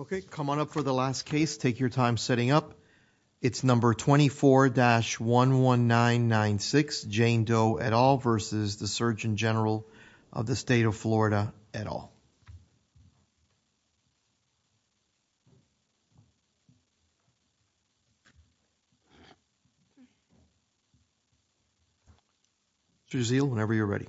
Okay, come on up for the last case. Take your time setting up. It's number 24-11996, Jane Doe et al. versus the Surgeon General of the State of Florida et al. Mr. Gazeel, whenever you're ready.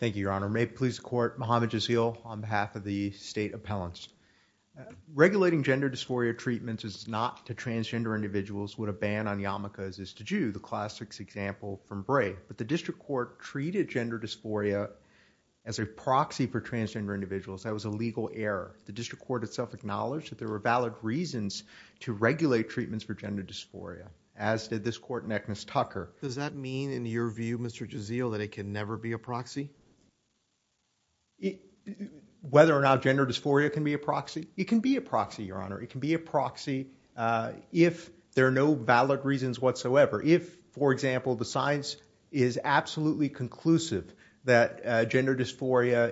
Thank you, Your Honor. May it please the Court, Muhammad Gazeel on behalf of the State Appellants. Regulating gender dysphoria treatments is not to transgender individuals what a ban on yarmulkes is to Jews, the classic example from Bray. But the District Court treated gender dysphoria as a proxy for transgender individuals. That was a legal error. The District Court itself acknowledged that there were valid reasons to regulate treatments for gender dysphoria, as did this Court in Agnes Tucker. Does that mean in your view, Mr. Gazeel, that it can never be a proxy? Whether or not gender dysphoria can be a proxy? It can be a proxy, Your Honor. It can be a proxy if there are no valid reasons whatsoever. If, for example, the science is absolutely conclusive that gender dysphoria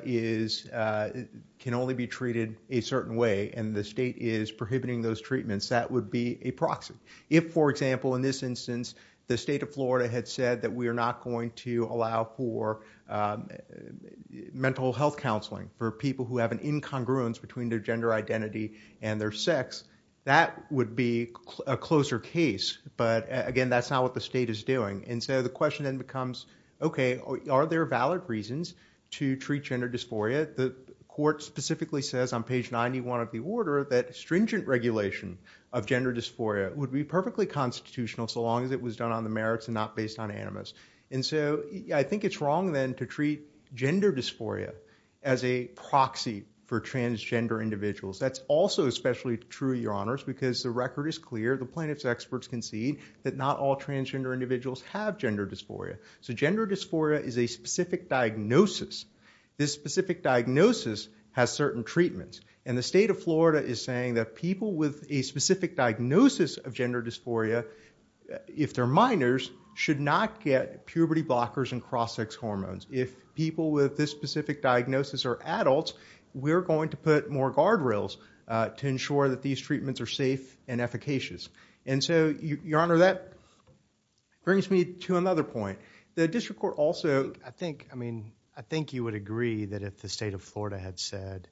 can only be treated a certain way and the state is prohibiting those treatments, that would be a proxy. If, for example, in this instance, the State of Florida had said that we are not going to allow for mental health counseling for people who have an incongruence between their gender identity and their sex, that would be a closer case. But again, that's not what the state is doing. And so the question then becomes, okay, are there valid reasons to treat gender dysphoria? The Court specifically says on page 91 of the order that stringent regulation of gender dysphoria would be perfectly constitutional so long as it was done on the merits and not based on animus. And so I think it's wrong then to treat gender dysphoria as a proxy for transgender individuals. That's also especially true, Your Honors, because the record is clear. The plaintiff's experts concede that not all transgender individuals have gender dysphoria. So gender dysphoria is a specific diagnosis. This specific diagnosis has certain treatments. And the State of Florida is saying that people with a specific diagnosis of gender dysphoria, if they're minors, should not get puberty blockers and cross-sex hormones. If people with this specific diagnosis are adults, we're going to put more guardrails to ensure that these treatments are safe and efficacious. And so, Your Honor, that brings me to another point. The District Court also— I think you would agree that if the State of Florida had said,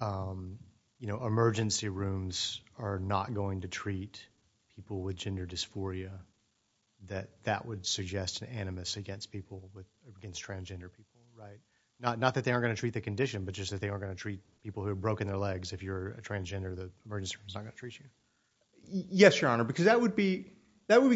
you know, emergency rooms are not going to treat people with gender dysphoria, that that would suggest an animus against people, against transgender people, right? Not that they aren't going to treat the condition, but just that they aren't going to treat people who have broken their legs if you're a transgender, the emergency room is not going to treat you. Yes, Your Honor, because that would be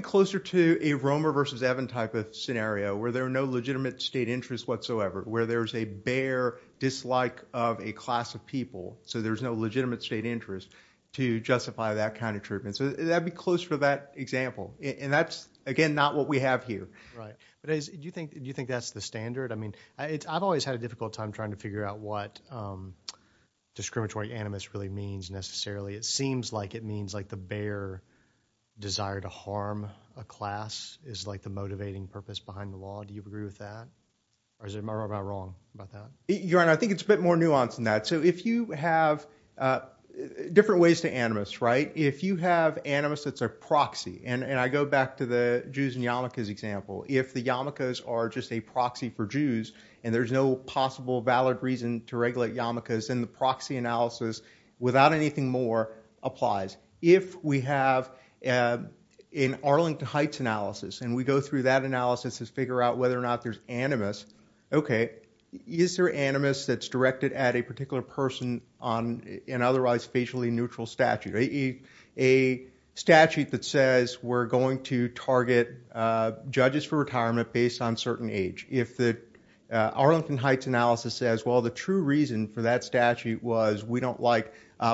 closer to a Romer versus Evan type of scenario, where there are no legitimate state interests whatsoever, where there's a bare dislike of a class of people, so there's no legitimate state interest to justify that kind of treatment. So that would be closer to that example. And that's, again, not what we have here. Right. But do you think that's the standard? I mean, I've always had a difficult time trying to figure out what discriminatory animus really means, necessarily. It seems like it means like the bare desire to harm a class is like the motivating purpose behind the law. Do you agree with that? Or am I wrong about that? Your Honor, I think it's a bit more nuanced than that. So if you have—different ways to animus, right? If you have animus that's a proxy, and I go back to the Jews and yarmulkes example, if the yarmulkes are just a proxy for Jews, and there's no possible valid reason to regulate yarmulkes, then the proxy analysis, without anything more, applies. If we have an Arlington Heights analysis, and we go through that analysis to figure out whether or not there's animus, okay, is there animus that's directed at a particular person on an otherwise facially neutral statute? A statute that says we're going to target judges for retirement based on certain age. If the Arlington Heights analysis says, well, the true reason for that statute was we don't like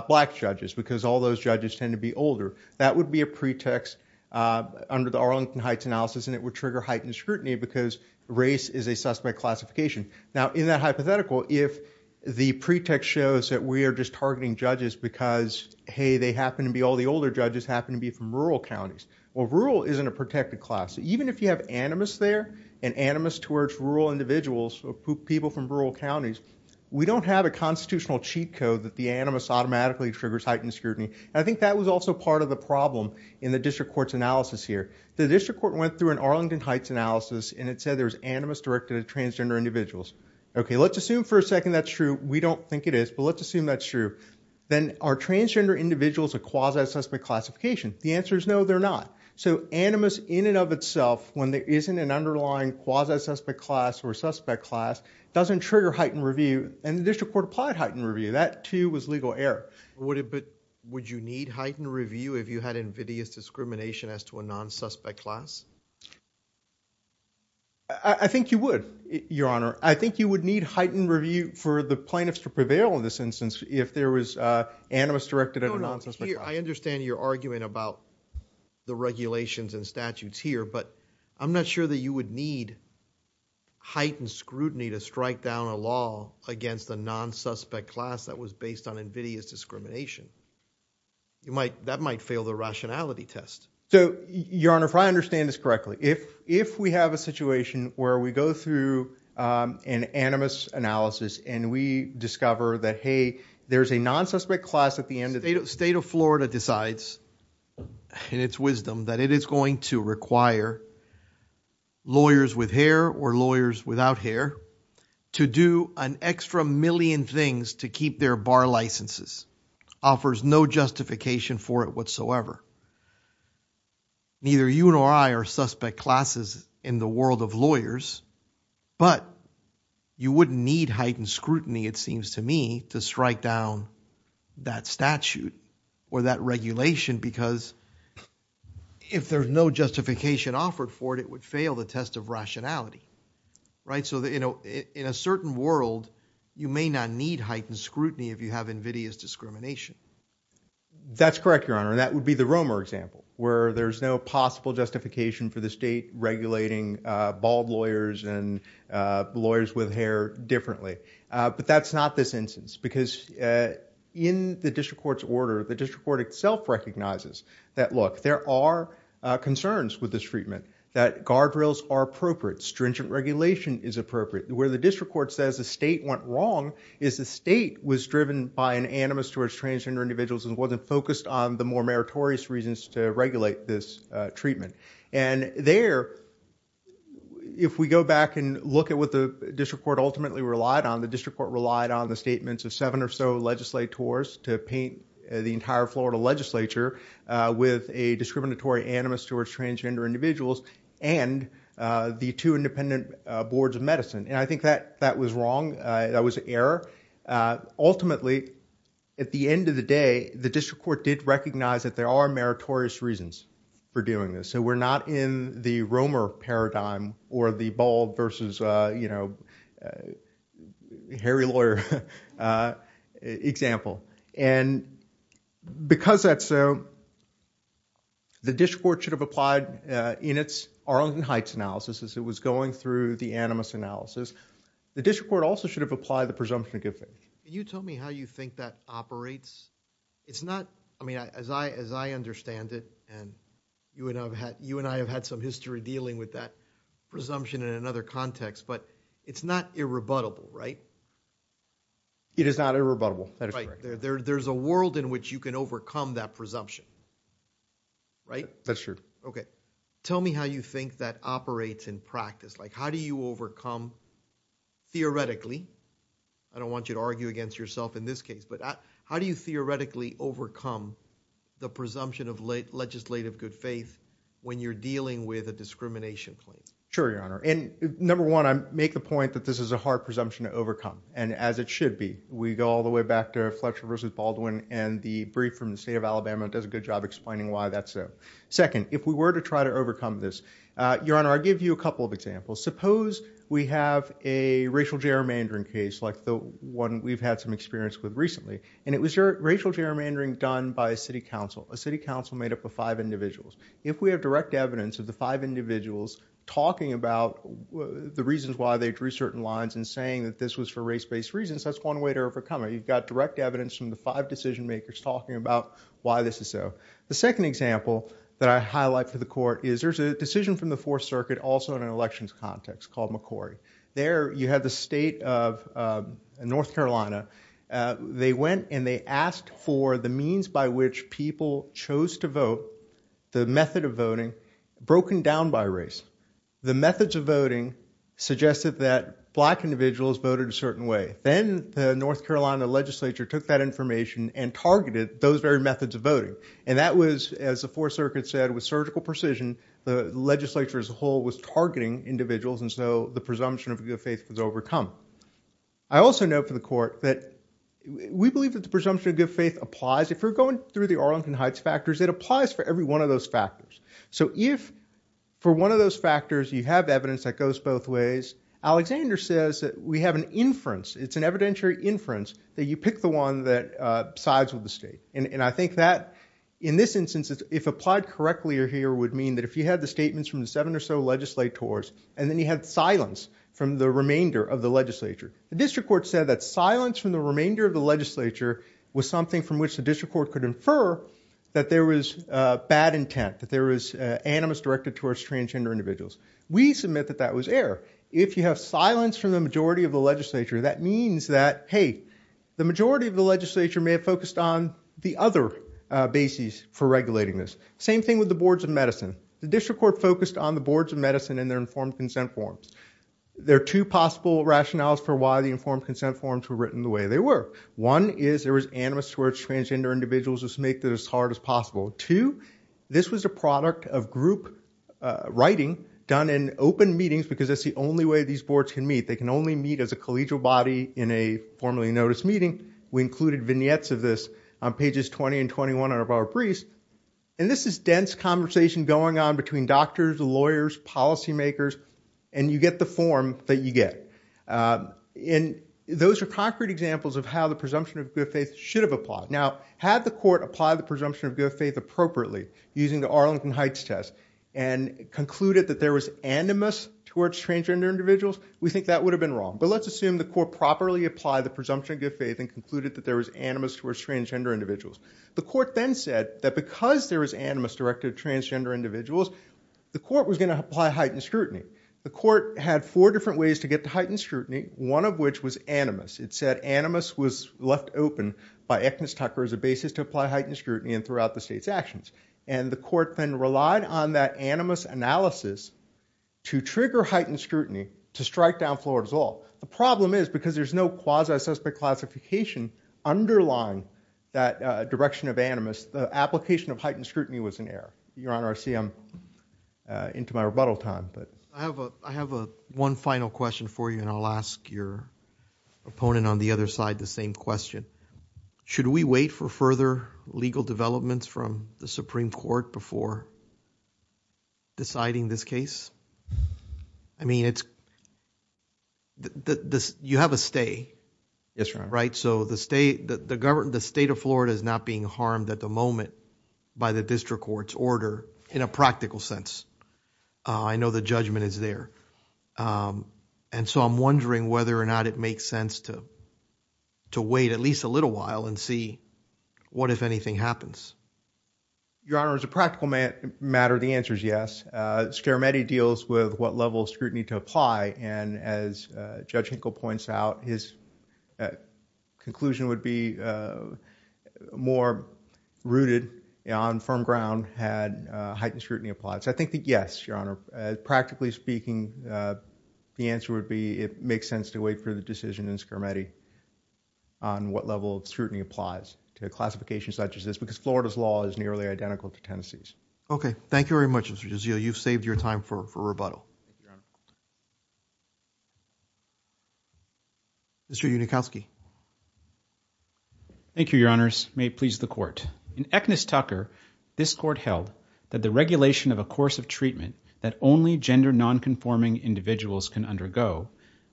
black judges because all those judges tend to be older, that would be a pretext under the Arlington Heights analysis, and it would trigger heightened scrutiny because race is a suspect classification. Now, in that hypothetical, if the pretext shows that we are just targeting judges because, hey, they happen to be, all the older judges happen to be from rural counties, well, rural isn't a protected class. Even if you have animus there and animus towards rural individuals or people from rural counties, we don't have a constitutional cheat code that the animus automatically triggers heightened scrutiny, and I think that was also part of the problem in the district court's analysis here. The district court went through an Arlington Heights analysis, and it said there was animus directed at transgender individuals. Okay, let's assume for a second that's true. We don't think it is, but let's assume that's true. Then are transgender individuals a quasi-suspect classification? The answer is no, they're not. So animus in and of itself, when there isn't an underlying quasi-suspect class or suspect class, doesn't trigger heightened review, and the district court applied heightened review. That, too, was legal error. Would you need heightened review if you had invidious discrimination as to a non-suspect class? I think you would, Your Honor. I think you would need heightened review for the plaintiffs to prevail in this instance if there was animus directed at a non-suspect class. No, no. I understand your argument about the regulations and statutes here, but I'm not sure that you would need heightened scrutiny to strike down a law against a non-suspect class that was based on invidious discrimination. That might fail the rationality test. So, Your Honor, if I understand this correctly, if we have a situation where we go through an animus analysis, and we discover that, hey, there's a non-suspect class at the end of the case. The state of Florida decides, in its wisdom, that it is going to require lawyers with hair or lawyers without hair to do an extra million things to keep their bar licenses, offers no justification for it whatsoever. Neither you nor I are suspect classes in the world of lawyers, but you wouldn't need heightened scrutiny, it seems to me, to strike down that statute or that regulation because if there's no justification offered for it, it would fail the test of rationality, right? So, you know, in a certain world, you may not need heightened scrutiny if you have invidious discrimination. That's correct, Your Honor. And that would be the Romer example, where there's no possible justification for the state regulating bald lawyers and lawyers with hair differently. But that's not this instance, because in the district court's order, the district court itself recognizes that, look, there are concerns with this treatment, that guardrails are appropriate, stringent regulation is appropriate. Where the district court says the state went wrong is the state was driven by an animus towards transgender individuals and wasn't focused on the more meritorious reasons to regulate this treatment. And there, if we go back and look at what the district court ultimately relied on, the district court relied on the statements of seven or so legislators to paint the entire Florida legislature with a discriminatory animus towards transgender individuals and the two independent boards of medicine. And I think that was wrong. That was an error. Ultimately, at the end of the day, the district court did recognize that there are meritorious reasons for doing this. So we're not in the Romer paradigm or the bald versus, you know, hairy lawyer example. And because that's so, the district court should have applied in its Arlington Heights analysis as it was going through the animus analysis, the district court also should have applied the presumption of good faith. You tell me how you think that operates. It's not, I mean, as I, as I understand it, and you and I have had, you and I have had some history dealing with that presumption in another context, but it's not irrebuttable, right? It is not irrebuttable. There's a world in which you can overcome that presumption, right? That's true. Okay. Tell me how you think that operates in practice. Like, how do you overcome, theoretically, I don't want you to argue against yourself in this case, but how do you theoretically overcome the presumption of legislative good faith when you're dealing with a discrimination claim? Sure, Your Honor. And number one, I make the point that this is a hard presumption to overcome, and as it should be. We go all the way back to Fletcher versus Baldwin, and the brief from the state of Alabama does a good job explaining why that's so. Second, if we were to try to overcome this, Your Honor, I'll give you a couple of examples. Suppose we have a racial gerrymandering case like the one we've had some experience with recently, and it was racial gerrymandering done by a city council, a city council made up of five individuals. If we have direct evidence of the five individuals talking about the reasons why they drew certain lines and saying that this was for race-based reasons, that's one way to overcome it. You've got direct evidence from the five decision makers talking about why this is so. The second example that I highlight for the Court is there's a decision from the Fourth Circuit context called McCorry. There you have the state of North Carolina, they went and they asked for the means by which people chose to vote, the method of voting, broken down by race. The methods of voting suggested that black individuals voted a certain way. Then the North Carolina legislature took that information and targeted those very methods of voting. And that was, as the Fourth Circuit said, with surgical precision, the legislature as a whole was targeting individuals, and so the presumption of good faith was overcome. I also note for the Court that we believe that the presumption of good faith applies. If we're going through the Arlington Heights factors, it applies for every one of those factors. So if for one of those factors you have evidence that goes both ways, Alexander says that we have an inference, it's an evidentiary inference, that you pick the one that sides with the state. And I think that in this instance, if applied correctly here, would mean that if you had the statements from the seven or so legislators, and then you had silence from the remainder of the legislature, the district court said that silence from the remainder of the legislature was something from which the district court could infer that there was bad intent, that there was animus directed towards transgender individuals. We submit that that was error. If you have silence from the majority of the legislature, that means that, hey, the majority of the legislature may have focused on the other bases for regulating this. Same thing with the boards of medicine. The district court focused on the boards of medicine and their informed consent forms. There are two possible rationales for why the informed consent forms were written the way they were. One is there was animus towards transgender individuals to make this as hard as possible. Two, this was a product of group writing done in open meetings because that's the only way these boards can meet. They can only meet as a collegial body in a formally noticed meeting. We included vignettes of this on pages 20 and 21 of our briefs. And this is dense conversation going on between doctors, lawyers, policymakers, and you get the form that you get. And those are concrete examples of how the presumption of good faith should have applied. Now, had the court applied the presumption of good faith appropriately using the Arlington Heights test and concluded that there was animus towards transgender individuals, we think that would have been wrong. But let's assume the court properly applied the presumption of good faith and concluded that there was animus towards transgender individuals. The court then said that because there was animus directed at transgender individuals, the court was going to apply heightened scrutiny. The court had four different ways to get to heightened scrutiny, one of which was animus. It said animus was left open by Echnus Tucker as a basis to apply heightened scrutiny in throughout the state's actions. And the court then relied on that animus analysis to trigger heightened scrutiny to strike down Florida's law. The problem is, because there's no quasi-suspect classification underlying that direction of animus, the application of heightened scrutiny was in error. Your Honor, I see I'm into my rebuttal time. I have one final question for you, and I'll ask your opponent on the other side the same question. Should we wait for further legal developments from the Supreme Court before deciding this case? I mean, you have a stay, right? So the state of Florida is not being harmed at the moment by the district court's order in a practical sense. I know the judgment is there. And so I'm wondering whether or not it makes sense to wait at least a little while and see what, if anything, happens. Your Honor, as a practical matter, the answer is yes. And Scarametti deals with what level of scrutiny to apply. And as Judge Hinkle points out, his conclusion would be more rooted on firm ground had heightened scrutiny applied. So I think that yes, Your Honor, practically speaking, the answer would be it makes sense to wait for the decision in Scarametti on what level of scrutiny applies to a classification such as this, because Florida's law is nearly identical to Tennessee's. Okay. Thank you very much, Mr. D'Azio. You've saved your time for rebuttal. Mr. Unikowski. Thank you, Your Honors. May it please the Court. In Eknist-Tucker, this Court held that the regulation of a course of treatment that only gender nonconforming individuals can undergo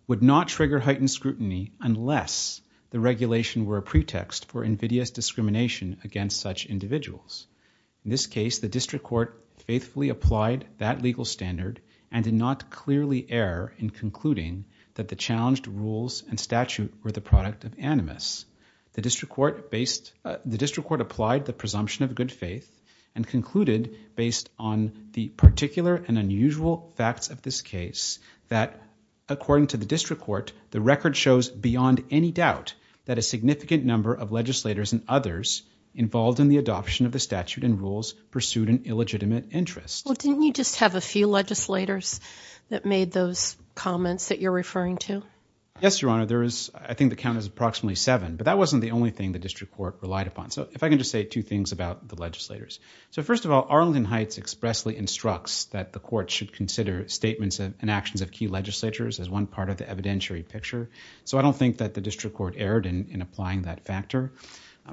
would not trigger heightened scrutiny unless the regulation were a pretext for invidious discrimination against such individuals. In this case, the District Court faithfully applied that legal standard and did not clearly err in concluding that the challenged rules and statute were the product of animus. The District Court applied the presumption of good faith and concluded based on the particular and unusual facts of this case that, according to the District Court, the record shows beyond any doubt that a significant number of legislators and others involved in the adoption of the statute and rules pursued an illegitimate interest. Well, didn't you just have a few legislators that made those comments that you're referring to? Yes, Your Honor. There is, I think the count is approximately seven, but that wasn't the only thing the District Court relied upon. So if I can just say two things about the legislators. So first of all, Arlington Heights expressly instructs that the Court should consider statements and actions of key legislators as one part of the evidentiary picture. So I don't think that the District Court erred in applying that factor.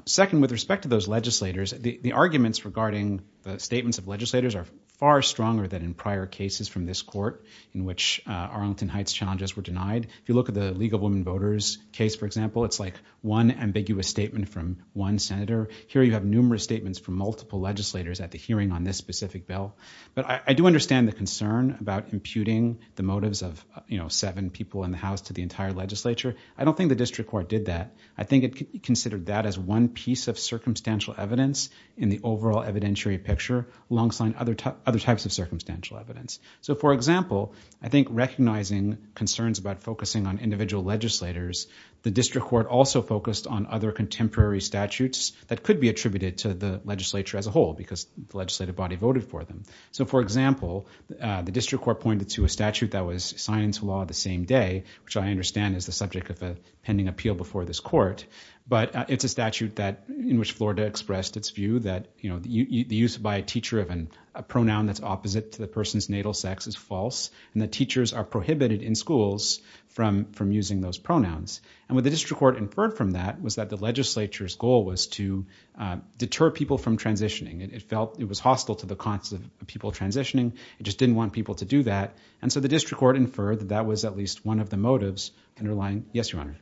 Second, with respect to those legislators, the arguments regarding the statements of legislators are far stronger than in prior cases from this court in which Arlington Heights challenges were denied. If you look at the League of Women Voters case, for example, it's like one ambiguous statement from one senator. Here you have numerous statements from multiple legislators at the hearing on this specific bill. But I do understand the concern about imputing the motives of, you know, seven people in the House to the entire legislature. I don't think the District Court did that. I think it considered that as one piece of circumstantial evidence in the overall evidentiary picture alongside other types of circumstantial evidence. So for example, I think recognizing concerns about focusing on individual legislators, the District Court also focused on other contemporary statutes that could be attributed to the legislature as a whole because the legislative body voted for them. So for example, the District Court pointed to a statute that was signed into law the same day, which I understand is the subject of a pending appeal before this court. But it's a statute in which Florida expressed its view that, you know, the use by a teacher of a pronoun that's opposite to the person's natal sex is false and that teachers are prohibited in schools from using those pronouns. And what the District Court inferred from that was that the legislature's goal was to deter people from transitioning. It felt it was hostile to the concept of people transitioning. It just didn't want people to do that. And so the District Court inferred that that was at least one of the motives underlying – yes, Your Honor.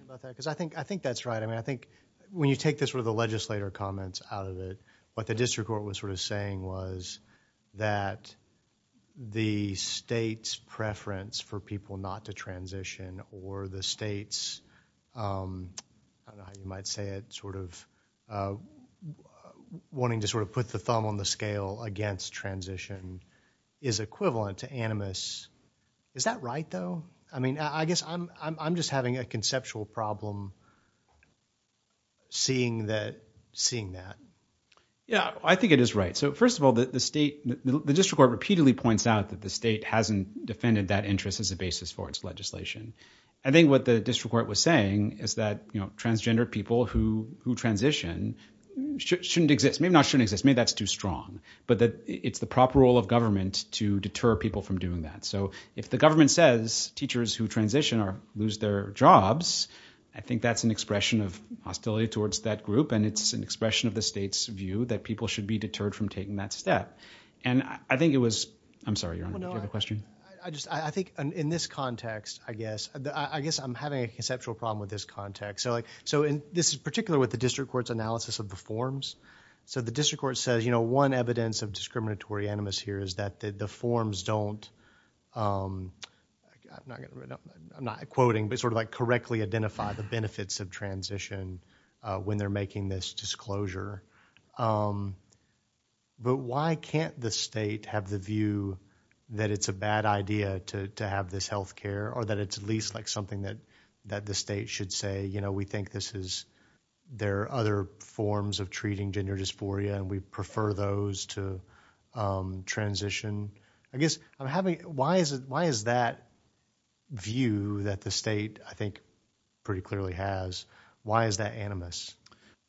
I think that's right. I mean, I think when you take this sort of the legislator comments out of it, what the District Court was sort of saying was that the state's preference for people not to transition or the state's, I don't know how you might say it, sort of wanting to sort of put the thumb on the scale against transition is equivalent to animus. Is that right, though? I mean, I guess I'm just having a conceptual problem seeing that, seeing that. Yeah, I think it is right. So first of all, the state, the District Court repeatedly points out that the state hasn't defended that interest as a basis for its legislation. I think what the District Court was saying is that, you know, transgender people who transition shouldn't exist. Maybe not shouldn't exist. Maybe that's too strong. But that it's the proper role of government to deter people from doing that. So if the government says teachers who transition lose their jobs, I think that's an expression of hostility towards that group, and it's an expression of the state's view that people should be deterred from taking that step. And I think it was – I'm sorry, Your Honor, did you have a question? I just – I think in this context, I guess, I guess I'm having a conceptual problem with this context. So, like, so in – this is particular with the District Court's analysis of the forms. So the District Court says, you know, one evidence of discriminatory animus here is that the forms don't – I'm not quoting, but sort of like correctly identify the benefits of transition when they're making this disclosure. But why can't the state have the view that it's a bad idea to have this health care or that it's at least like something that the state should say, you know, we think this is – there are other forms of treating gender dysphoria and we prefer those to transition? I guess I'm having – why is that view that the state, I think, pretty clearly has, why is that animus?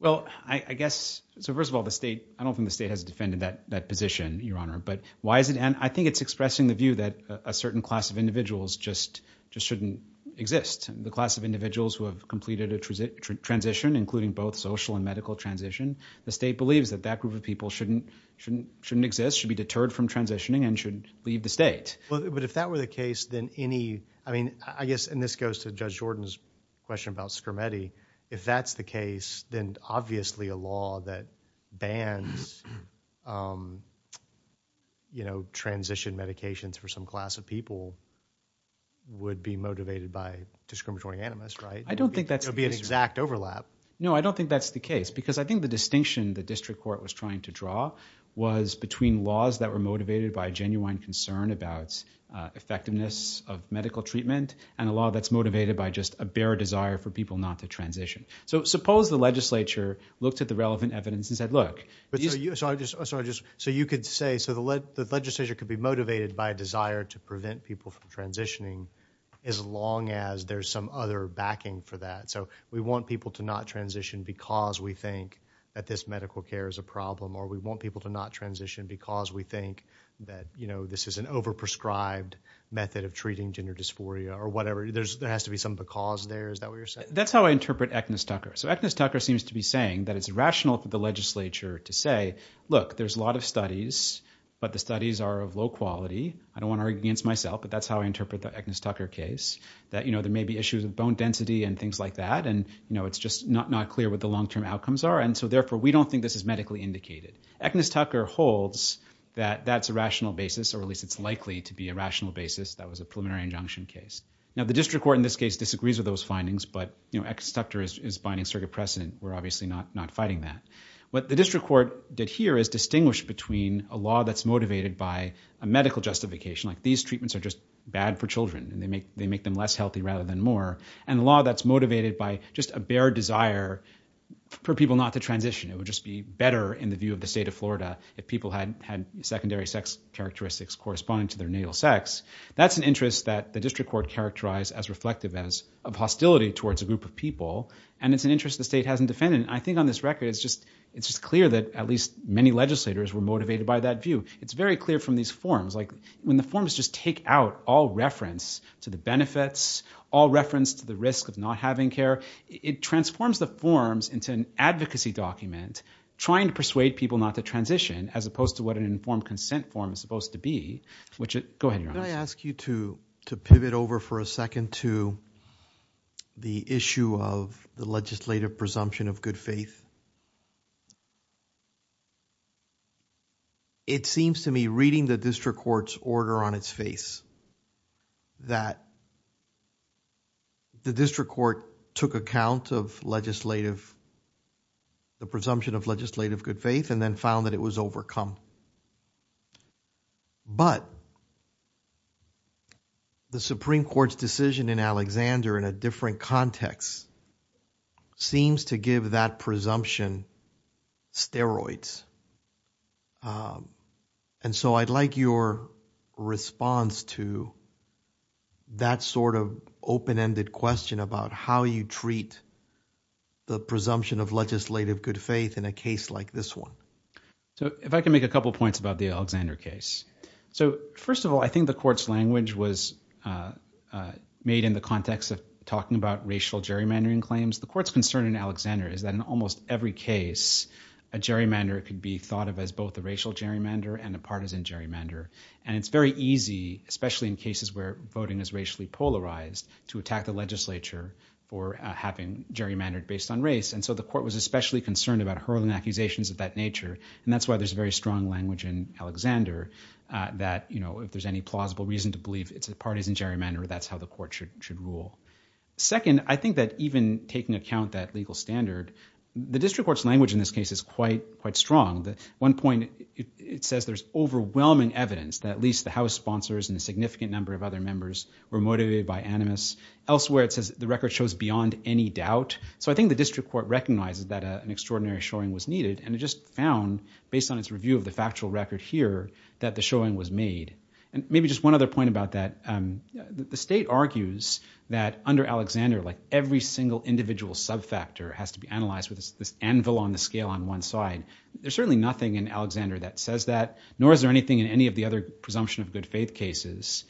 Well, I guess – so first of all, the state – I don't think the state has defended that position, Your Honor. But why is it – and I think it's expressing the view that a certain class of individuals just shouldn't exist. The class of individuals who have completed a transition, including both social and medical transition, the state believes that that group of people shouldn't exist, should be deterred from transitioning, and should leave the state. But if that were the case, then any – I mean, I guess – and this goes to Judge Jordan's question about Schermetti. If that's the case, then obviously a law that bans, you know, transition medications for some class of people would be motivated by discriminatory animus, right? I don't think that's the case. It would be an exact overlap. No, I don't think that's the case. Because I think the distinction the district court was trying to draw was between laws that were motivated by a genuine concern about effectiveness of medical treatment and a law that's motivated by just a bare desire for people not to transition. So suppose the legislature looked at the relevant evidence and said, look – So you could say – so the legislature could be motivated by a desire to prevent people from transitioning as long as there's some other backing for that. So we want people to not transition because we think that this medical care is a problem, or we want people to not transition because we think that, you know, this is an over-prescribed method of treating gender dysphoria, or whatever. There has to be some because there. Is that what you're saying? That's how I interpret Agnes Tucker. So Agnes Tucker seems to be saying that it's rational for the legislature to say, look, there's a lot of studies, but the studies are of low quality. I don't want to argue against myself, but that's how I interpret the Agnes Tucker case. That there may be issues of bone density and things like that, and it's just not clear what the long-term outcomes are, and so therefore we don't think this is medically indicated. Agnes Tucker holds that that's a rational basis, or at least it's likely to be a rational basis that was a preliminary injunction case. Now the district court in this case disagrees with those findings, but Agnes Tucker is binding a circuit precedent. We're obviously not fighting that. What the district court did here is distinguish between a law that's motivated by a medical justification, like these treatments are just bad for children, and they make them less healthy rather than more, and a law that's motivated by just a bare desire for people not to transition. It would just be better in the view of the state of Florida if people had secondary sex characteristics corresponding to their natal sex. That's an interest that the district court characterized as reflective of hostility towards a group of people, and it's an interest the state hasn't defended. I think on this record, it's just clear that at least many legislators were motivated by that view. It's very clear from these forms. When the forms just take out all reference to the benefits, all reference to the risk of not having care, it transforms the forms into an advocacy document trying to persuade people not to transition, as opposed to what an informed consent form is supposed to be, which it... Go ahead, Your Honor. Could I ask you to pivot over for a second to the issue of the legislative presumption of good faith? It seems to me, reading the district court's order on its face, that the district court took account of legislative, the presumption of legislative good faith, and then found that it was overcome. But the Supreme Court's decision in Alexander in a different context seems to give that presumption steroids. And so I'd like your response to that sort of open-ended question about how you treat the presumption of legislative good faith in a case like this one. So if I can make a couple of points about the Alexander case. So first of all, I think the court's language was made in the context of talking about racial gerrymandering claims. The court's concern in Alexander is that in almost every case, a gerrymander could be thought of as both a racial gerrymander and a partisan gerrymander. And it's very easy, especially in cases where voting is racially polarized, to attack the legislature for having gerrymandered based on race. And so the court was especially concerned about hurling accusations of that nature. And that's why there's a very strong language in Alexander that, you know, if there's any plausible reason to believe it's a partisan gerrymander, that's how the court should rule. Second, I think that even taking account that legal standard, the district court's language in this case is quite, quite strong. At one point, it says there's overwhelming evidence that at least the House sponsors and a significant number of other members were motivated by animus. Elsewhere, it says the record shows beyond any doubt. So I think the district court recognizes that an extraordinary showing was needed. And it just found, based on its review of the factual record here, that the showing was made. And maybe just one other point about that, the state argues that under Alexander, like every single individual subfactor has to be analyzed with this anvil on the scale on one side. There's certainly nothing in Alexander that says that, nor is there anything in any of the other presumption of good faith cases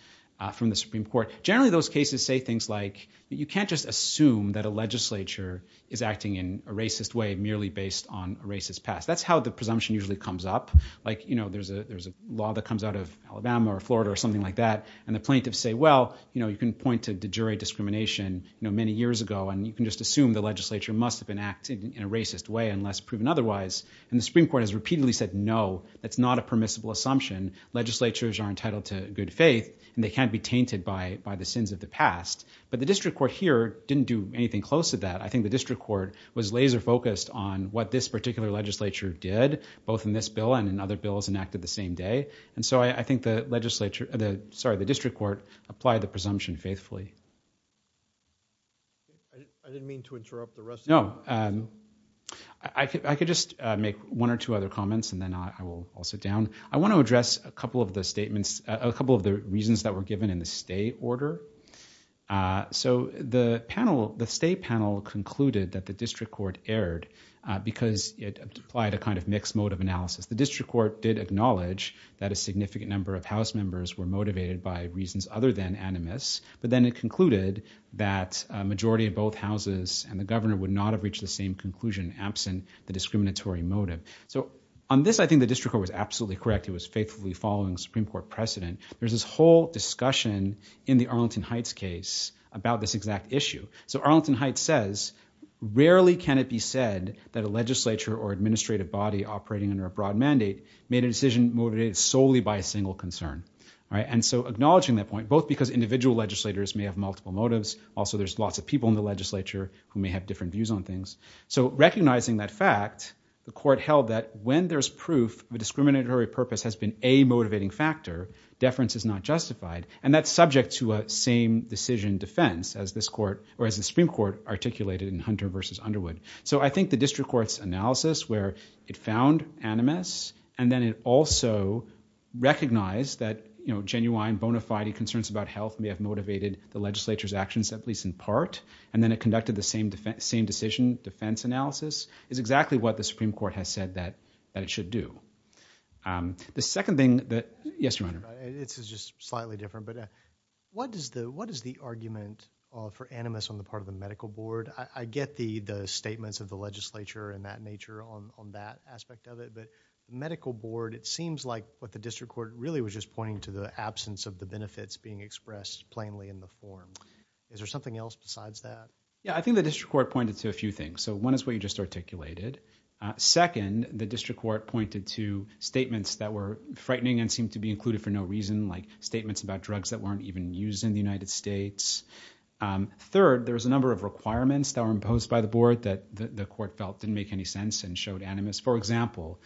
from the Supreme Court. Generally, those cases say things like you can't just assume that a legislature is acting in a racist way merely based on a racist past. That's how the presumption usually comes up. Like, you know, there's a there's a law that comes out of Alabama or Florida or something like that. And the plaintiffs say, well, you know, you can point to de jure discrimination many years ago and you can just assume the legislature must have been acting in a racist way unless proven otherwise. And the Supreme Court has repeatedly said, no, that's not a permissible assumption. Legislatures are entitled to good faith and they can't be tainted by by the sins of the past. But the district court here didn't do anything close to that. I think the district court was laser focused on what this particular legislature did, both in this bill and in other bills enacted the same day. And so I think the legislature, sorry, the district court applied the presumption faithfully. I didn't mean to interrupt the rest. No, I could just make one or two other comments and then I will sit down. I want to address a couple of the statements, a couple of the reasons that were given in the state order. So the panel, the state panel concluded that the district court erred because it applied a kind of mixed mode of analysis. The district court did acknowledge that a significant number of House members were motivated by reasons other than animus. But then it concluded that a majority of both houses and the governor would not have reached the same conclusion absent the discriminatory motive. So on this, I think the district court was absolutely correct. It was faithfully following Supreme Court precedent. There's this whole discussion in the Arlington Heights case about this exact issue. So Arlington Heights says, rarely can it be said that a legislature or administrative body operating under a broad mandate made a decision motivated solely by a single concern. And so acknowledging that point, both because individual legislators may have multiple motives. Also, there's lots of people in the legislature who may have different motives. And so it's very well that when there's proof of a discriminatory purpose has been a motivating factor, deference is not justified. And that's subject to a same decision defense as this court or as the Supreme Court articulated in Hunter versus Underwood. So I think the district court's analysis where it found animus and then it also recognized that, you know, genuine bona fide concerns about health may have motivated the legislature's actions, at least in part. And then it conducted the same defense, same decision defense analysis is exactly what the Supreme Court has said that that it should do. The second thing that yes, it's just slightly different. But what does the what is the argument for animus on the part of the medical board? I get the the statements of the legislature and that nature on on that aspect of it. But medical board, it seems like what the district court really was just pointing to the absence of the benefits being expressed plainly in the form. Is there something else besides that? Yeah, I think the district court pointed to a few things. So one is what you just articulated. Second, the district court pointed to statements that were frightening and seem to be included for no reason, like statements about drugs that weren't even used in the United States. Third, there's a number of requirements that were imposed by the board that the court felt didn't make any sense and showed animus. For example,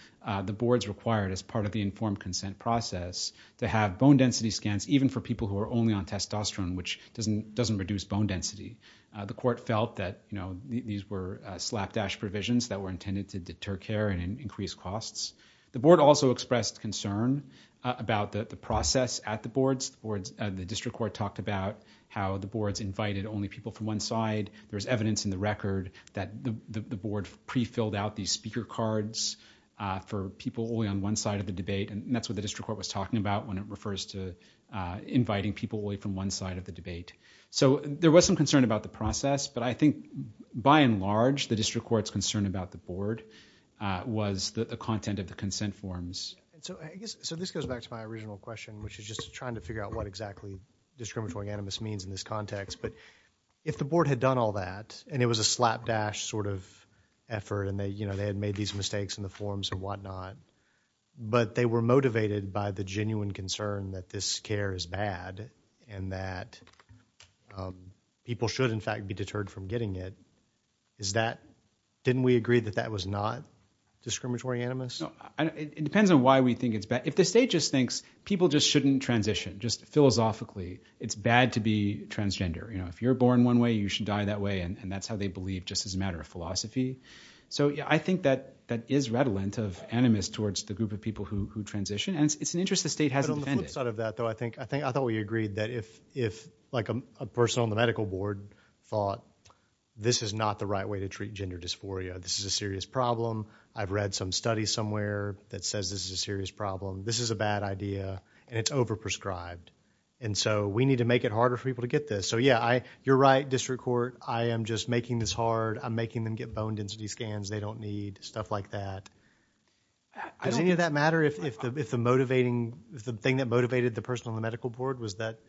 the board's required as part of the informed consent process to have bone density scans, even for people who are only on testosterone, which doesn't doesn't reduce bone density. The court felt that, you know, these were slapdash provisions that were intended to deter care and increase costs. The board also expressed concern about the process at the boards or the district court talked about how the boards invited only people from one side. There's evidence in the record that the board pre filled out these speaker cards for people only on one side of the debate. And that's what the district court was talking about when it refers to inviting people away from one side of the debate. So there was some concern about the process, but I think by and large, the district court's concern about the board was the content of the consent forms. So I guess so this goes back to my original question, which is just trying to figure out what exactly discriminatory animus means in this context. But if the board had done all that and it was a slapdash sort of effort and they, you know, they had made these mistakes in the forms and whatnot, but they were motivated by the genuine concern that this care is bad and that, um, people should in fact be deterred from getting it. Is that, didn't we agree that that was not discriminatory animus? No, it depends on why we think it's bad. If the state just thinks people just shouldn't transition, just philosophically, it's bad to be transgender. You know, if you're born one way, you should die that way. And that's how they believe just as a matter of philosophy. So I think that that is redolent of animus towards the group of people who transition. And it's an interest the state hasn't defended. But on the flip side of that though, I think, I think, I thought we agreed that if, if like a person on the medical board thought this is not the right way to treat gender dysphoria, this is a serious problem. I've read some studies somewhere that says this is a serious problem. This is a bad idea and it's overprescribed. And so we need to make it harder for people to get this. So yeah, I, you're right, district court, I am just making this hard. I'm making them get bone density scans they don't need. Stuff like that. Does any of that matter if the, if the motivating, if the thing that motivated the person on the medical board was that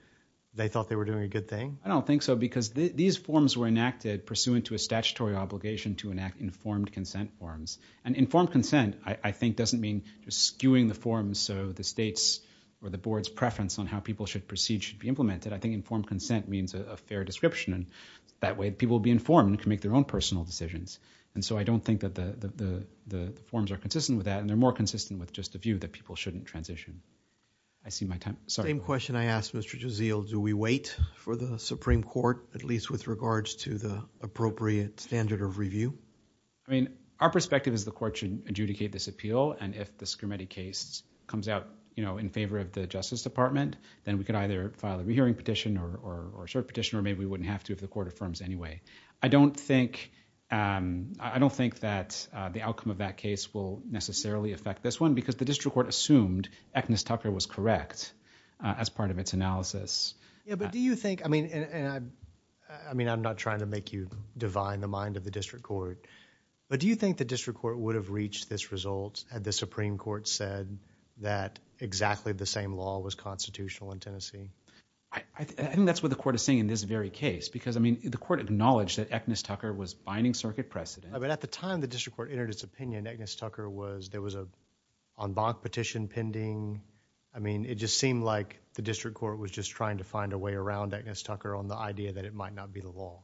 they thought they were doing a good thing? I don't think so because these forms were enacted pursuant to a statutory obligation to enact informed consent forms and informed consent, I think doesn't mean just skewing the forms. So the states or the board's preference on how people should proceed should be implemented. I think informed consent means a fair description and that way people will be informed and can make their own personal decisions. And so I don't think that the, the, the, the forms are consistent with that and they're more consistent with just a view that people shouldn't transition. I see my time. Sorry. Same question I asked Mr. Jazeel. Do we wait for the Supreme Court at least with regards to the appropriate standard of review? I mean, our perspective is the court should adjudicate this appeal and if the Scarametti case comes out, you know, in favor of the justice department, then we could either file a re-hearing petition or, or, or cert petition or maybe we wouldn't have to if the court affirms anyway. I don't think, um, I don't think that, uh, the outcome of that case will necessarily affect this one because the district court assumed Agnes Tucker was correct, uh, as part of its analysis. Yeah, but do you think, I mean, and I, I mean, I'm not trying to make you divine the mind of the district court, but do you think the district court would have reached this result had the Supreme Court said that exactly the same law was constitutional in Tennessee? I, I, I think that's what the court is saying in this very case because, I mean, the court acknowledged that Agnes Tucker was binding circuit precedent. Yeah, but at the time the district court entered its opinion, Agnes Tucker was, there was a en banc petition pending. I mean, it just seemed like the district court was just trying to find a way around Agnes Tucker on the idea that it might not be the law.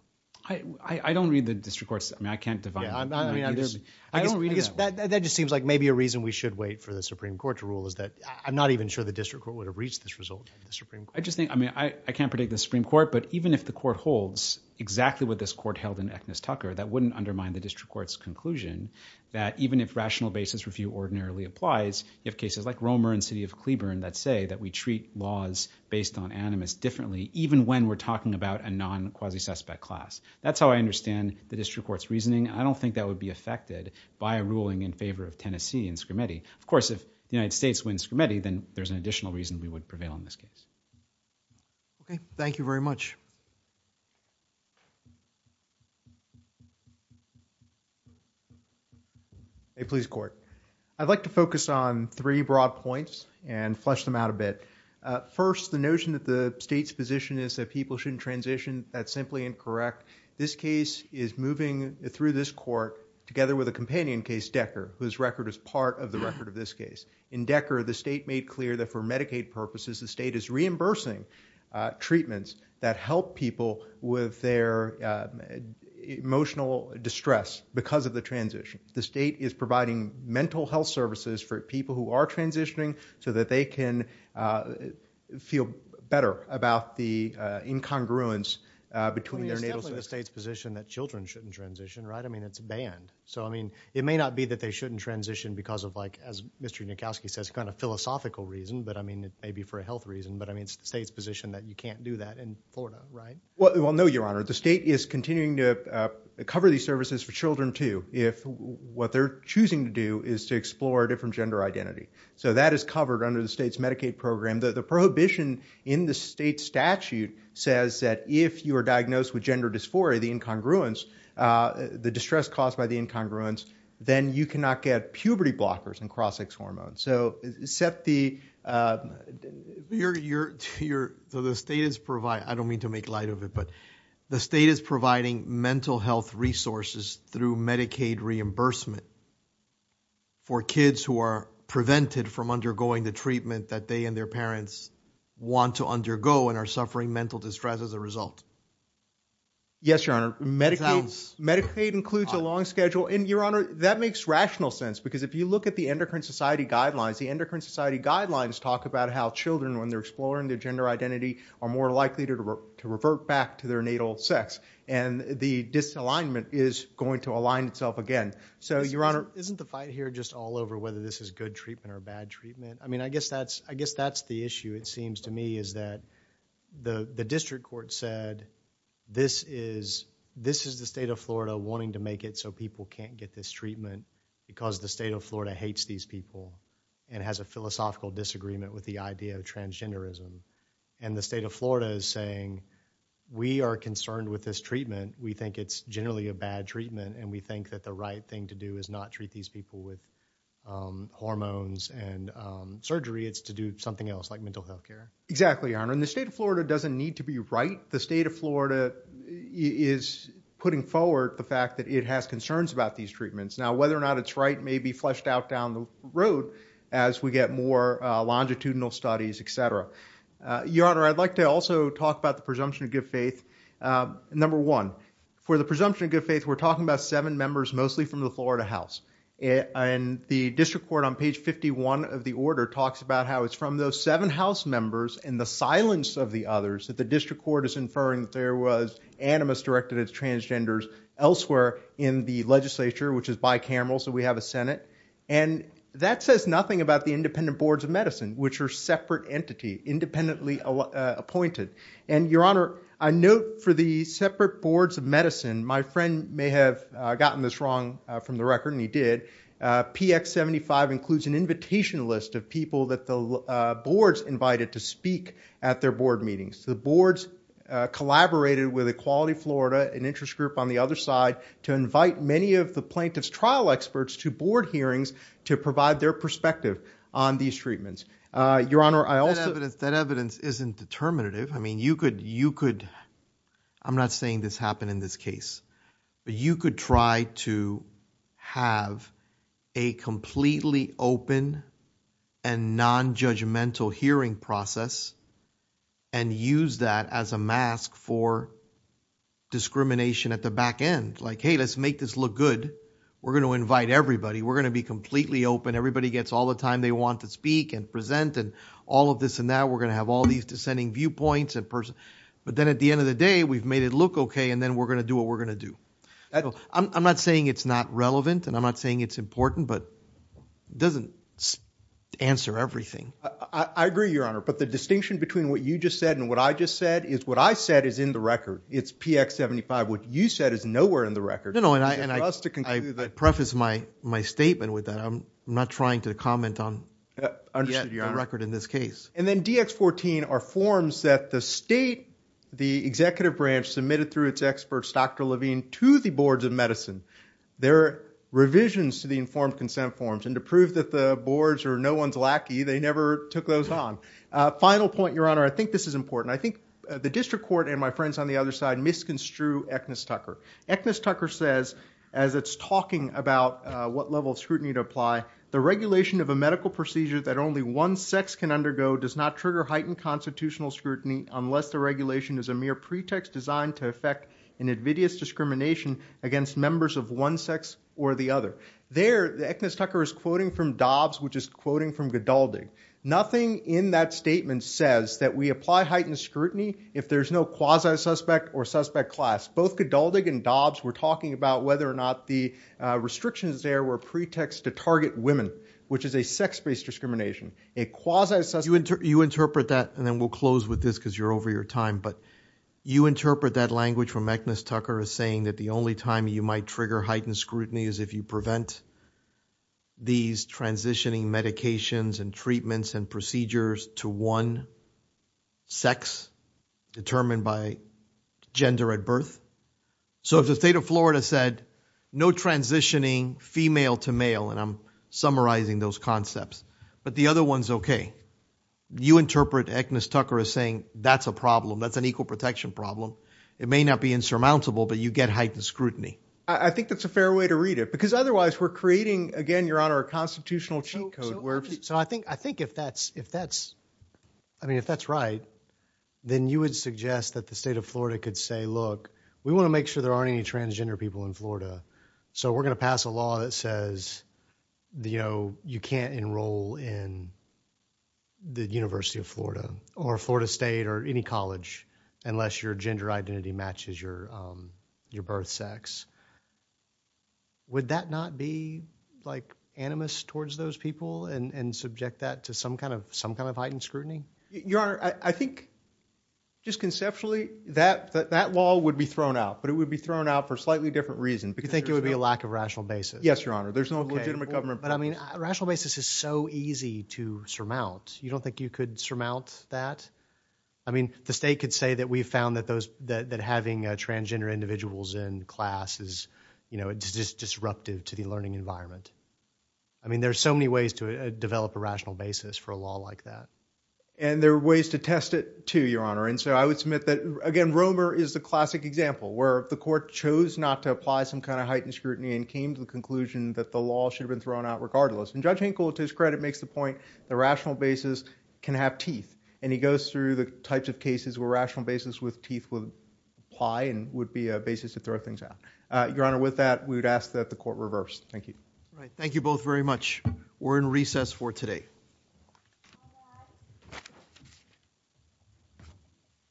I, I, I don't read the district court's, I mean, I can't divine. Yeah, I mean, I guess, I guess that, that just seems like maybe a reason we should wait for the Supreme Court to rule is that I'm not even sure the district court would have reached this result. I just think, I mean, I, I can't predict the Supreme Court, but even if the court holds exactly what this court held in Agnes Tucker, that wouldn't undermine the district court's conclusion that even if rational basis review ordinarily applies, you have cases like Romer and city of Cleburne that say that we treat laws based on animus differently, even when we're talking about a non-quasi suspect class. That's how I understand the district court's reasoning. I don't think that would be affected by a ruling in favor of Tennessee and Scrimeti. Of course, if the United States wins Scrimeti, then there's an additional reason we would prevail in this case. Okay. Thank you very much. A police court. I'd like to focus on three broad points and flesh them out a bit. Uh, first, the notion that the state's position is that people shouldn't transition, that's simply incorrect. This case is moving through this court together with a companion case, Decker, whose record is part of the record of this case. In Decker, the state made clear that for Medicaid purposes, the state is reimbursing, uh, treatments that help people with their, uh, emotional distress because of the transition. The state is providing mental health services for people who are transitioning so that they can, uh, feel better about the, uh, incongruence, uh, between their natal sex. I mean, it's definitely the state's position that children shouldn't transition, right? I mean, it's banned. So, I mean, it may not be that they shouldn't transition because of, like, as Mr. Nikoski says, kind of philosophical reason, but I mean, it may be for a health reason, but I mean, it's the state's position that you can't do that in Florida, right? Well, no, your honor. The state is continuing to, uh, cover these services for children too if what they're choosing to do is to explore a different gender identity. So that is covered under the state's Medicaid program. The prohibition in the state statute says that if you are diagnosed with gender dysphoria, the incongruence, uh, the distress caused by the incongruence, then you cannot get puberty blockers and cross-sex hormones. So except the, uh, you're, you're, you're, so the state is provide, I don't mean to make light of it, but the state is providing mental health resources through Medicaid reimbursement for kids who are prevented from undergoing the treatment that they and their parents want to undergo and are suffering mental distress as a result. Yes, your honor. Medicaid, Medicaid includes a long schedule and your honor, that makes rational sense because if you look at the endocrine society guidelines, the endocrine society guidelines talk about how children when they're exploring their gender identity are more likely to revert back to their natal sex and the disalignment is going to align itself again. So your honor. Isn't the fight here just all over whether this is good treatment or bad treatment? I mean, I guess that's, I guess that's the issue it seems to me is that the, the district court said, this is, this is the state of Florida wanting to make it so people can't get this treatment because the state of Florida hates these people and has a philosophical disagreement with the idea of transgenderism. And the state of Florida is saying, we are concerned with this treatment. We think it's generally a bad treatment and we think that the right thing to do is not treat these people with, um, hormones and, um, surgery. It's to do something else like mental health care. Exactly. Thank you, your honor. And the state of Florida doesn't need to be right. The state of Florida is putting forward the fact that it has concerns about these treatments. Now, whether or not it's right, maybe fleshed out down the road as we get more, uh, longitudinal studies, et cetera. Uh, your honor, I'd like to also talk about the presumption of good faith. Um, number one for the presumption of good faith, we're talking about seven members, mostly from the Florida house and the district court on page 51 of the order talks about how it's from those seven house members and the silence of the others that the district court is inferring that there was animus directed as transgenders elsewhere in the legislature, which is bicameral. So we have a Senate and that says nothing about the independent boards of medicine, which are separate entity, independently appointed. And your honor, I note for the separate boards of medicine, my friend may have gotten this wrong from the record and he did a PX 75 includes an invitation list of people that they'll boards invited to speak at their board meetings to the boards, uh, collaborated with equality Florida and interest group on the other side to invite many of the plaintiff's trial experts to board hearings, to provide their perspective on these treatments. Uh, your honor, I also evidence that evidence isn't determinative. I mean, you could, you could, I'm not saying this happened in this case, but you could try to have a completely open and nonjudgmental hearing process and use that as a mask for discrimination at the back end. Like, Hey, let's make this look good. We're going to invite everybody. We're going to be completely open. Everybody gets all the time they want to speak and present and all of this. And now we're going to have all these descending viewpoints and person, but then at the end of the day, we've made it look okay. And then we're going to do what we're going to do. I'm not saying it's not relevant and I'm not saying it's important, but it doesn't answer everything. I agree your honor. But the distinction between what you just said and what I just said is what I said is in the record. It's PX 75. What you said is nowhere in the record. No, no. And I preface my, my statement with that. I'm not trying to comment on the record in this case. And then DX 14 are forms that the state, the executive branch submitted through its experts, Dr. Levine to the boards of medicine, their revisions to the informed consent forms and to prove that the boards are no one's lackey. They never took those on a final point. Your honor. I think this is important. I think the district court and my friends on the other side, misconstrued Eknis Tucker. Eknis Tucker says, as it's talking about what level of scrutiny to apply, the regulation of a medical procedure that only one sex can undergo does not trigger heightened constitutional scrutiny unless the regulation is a mere pretext designed to affect an invidious discrimination against members of one sex or the other. There the Eknis Tucker is quoting from Dobbs, which is quoting from Godaldig. Nothing in that statement says that we apply heightened scrutiny if there's no quasi suspect or suspect class. Both Godaldig and Dobbs were talking about whether or not the restrictions there were pretext to target women, which is a sex based discrimination, a quasi suspect. You interpret that and then we'll close with this because you're over your time, but you interpret that language from Eknis Tucker is saying that the only time you might trigger heightened scrutiny is if you prevent these transitioning medications and treatments and procedures to one sex determined by gender at birth. So if the state of Florida said no transitioning female to male and I'm summarizing those concepts, but the other one's okay. You interpret Eknis Tucker is saying that's a problem. That's an equal protection problem. It may not be insurmountable, but you get heightened scrutiny. I think that's a fair way to read it because otherwise we're creating again, your honor, a constitutional cheat code. So I think, I think if that's, if that's, I mean, if that's right, then you would suggest that the state of Florida could say, look, we want to make sure there aren't any transgender people in Florida. So we're going to pass a law that says, you know, you can't enroll in the University of Florida or Florida state or any college unless your gender identity matches your, um, your birth sex. Would that not be like animus towards those people and subject that to some kind of, some kind of heightened scrutiny? Your honor, I think just conceptually that, that, that law would be thrown out, but it would be a lack of rational basis. Yes, your honor. There's no legitimate government, but I mean, rational basis is so easy to surmount. You don't think you could surmount that? I mean, the state could say that we've found that those, that, that having a transgender individuals in classes, you know, it's just disruptive to the learning environment. I mean, there's so many ways to develop a rational basis for a law like that. And there are ways to test it to your honor. And so I would submit that again, Romer is the classic example where the court chose not to apply some kind of heightened scrutiny and came to the conclusion that the law should have been thrown out regardless. And judge Hinkle to his credit makes the point, the rational basis can have teeth and he goes through the types of cases where rational basis with teeth would apply and would be a basis to throw things out. Uh, your honor, with that, we would ask that the court reversed. Thank you. All right. Thank you both very much. We're in recess for today.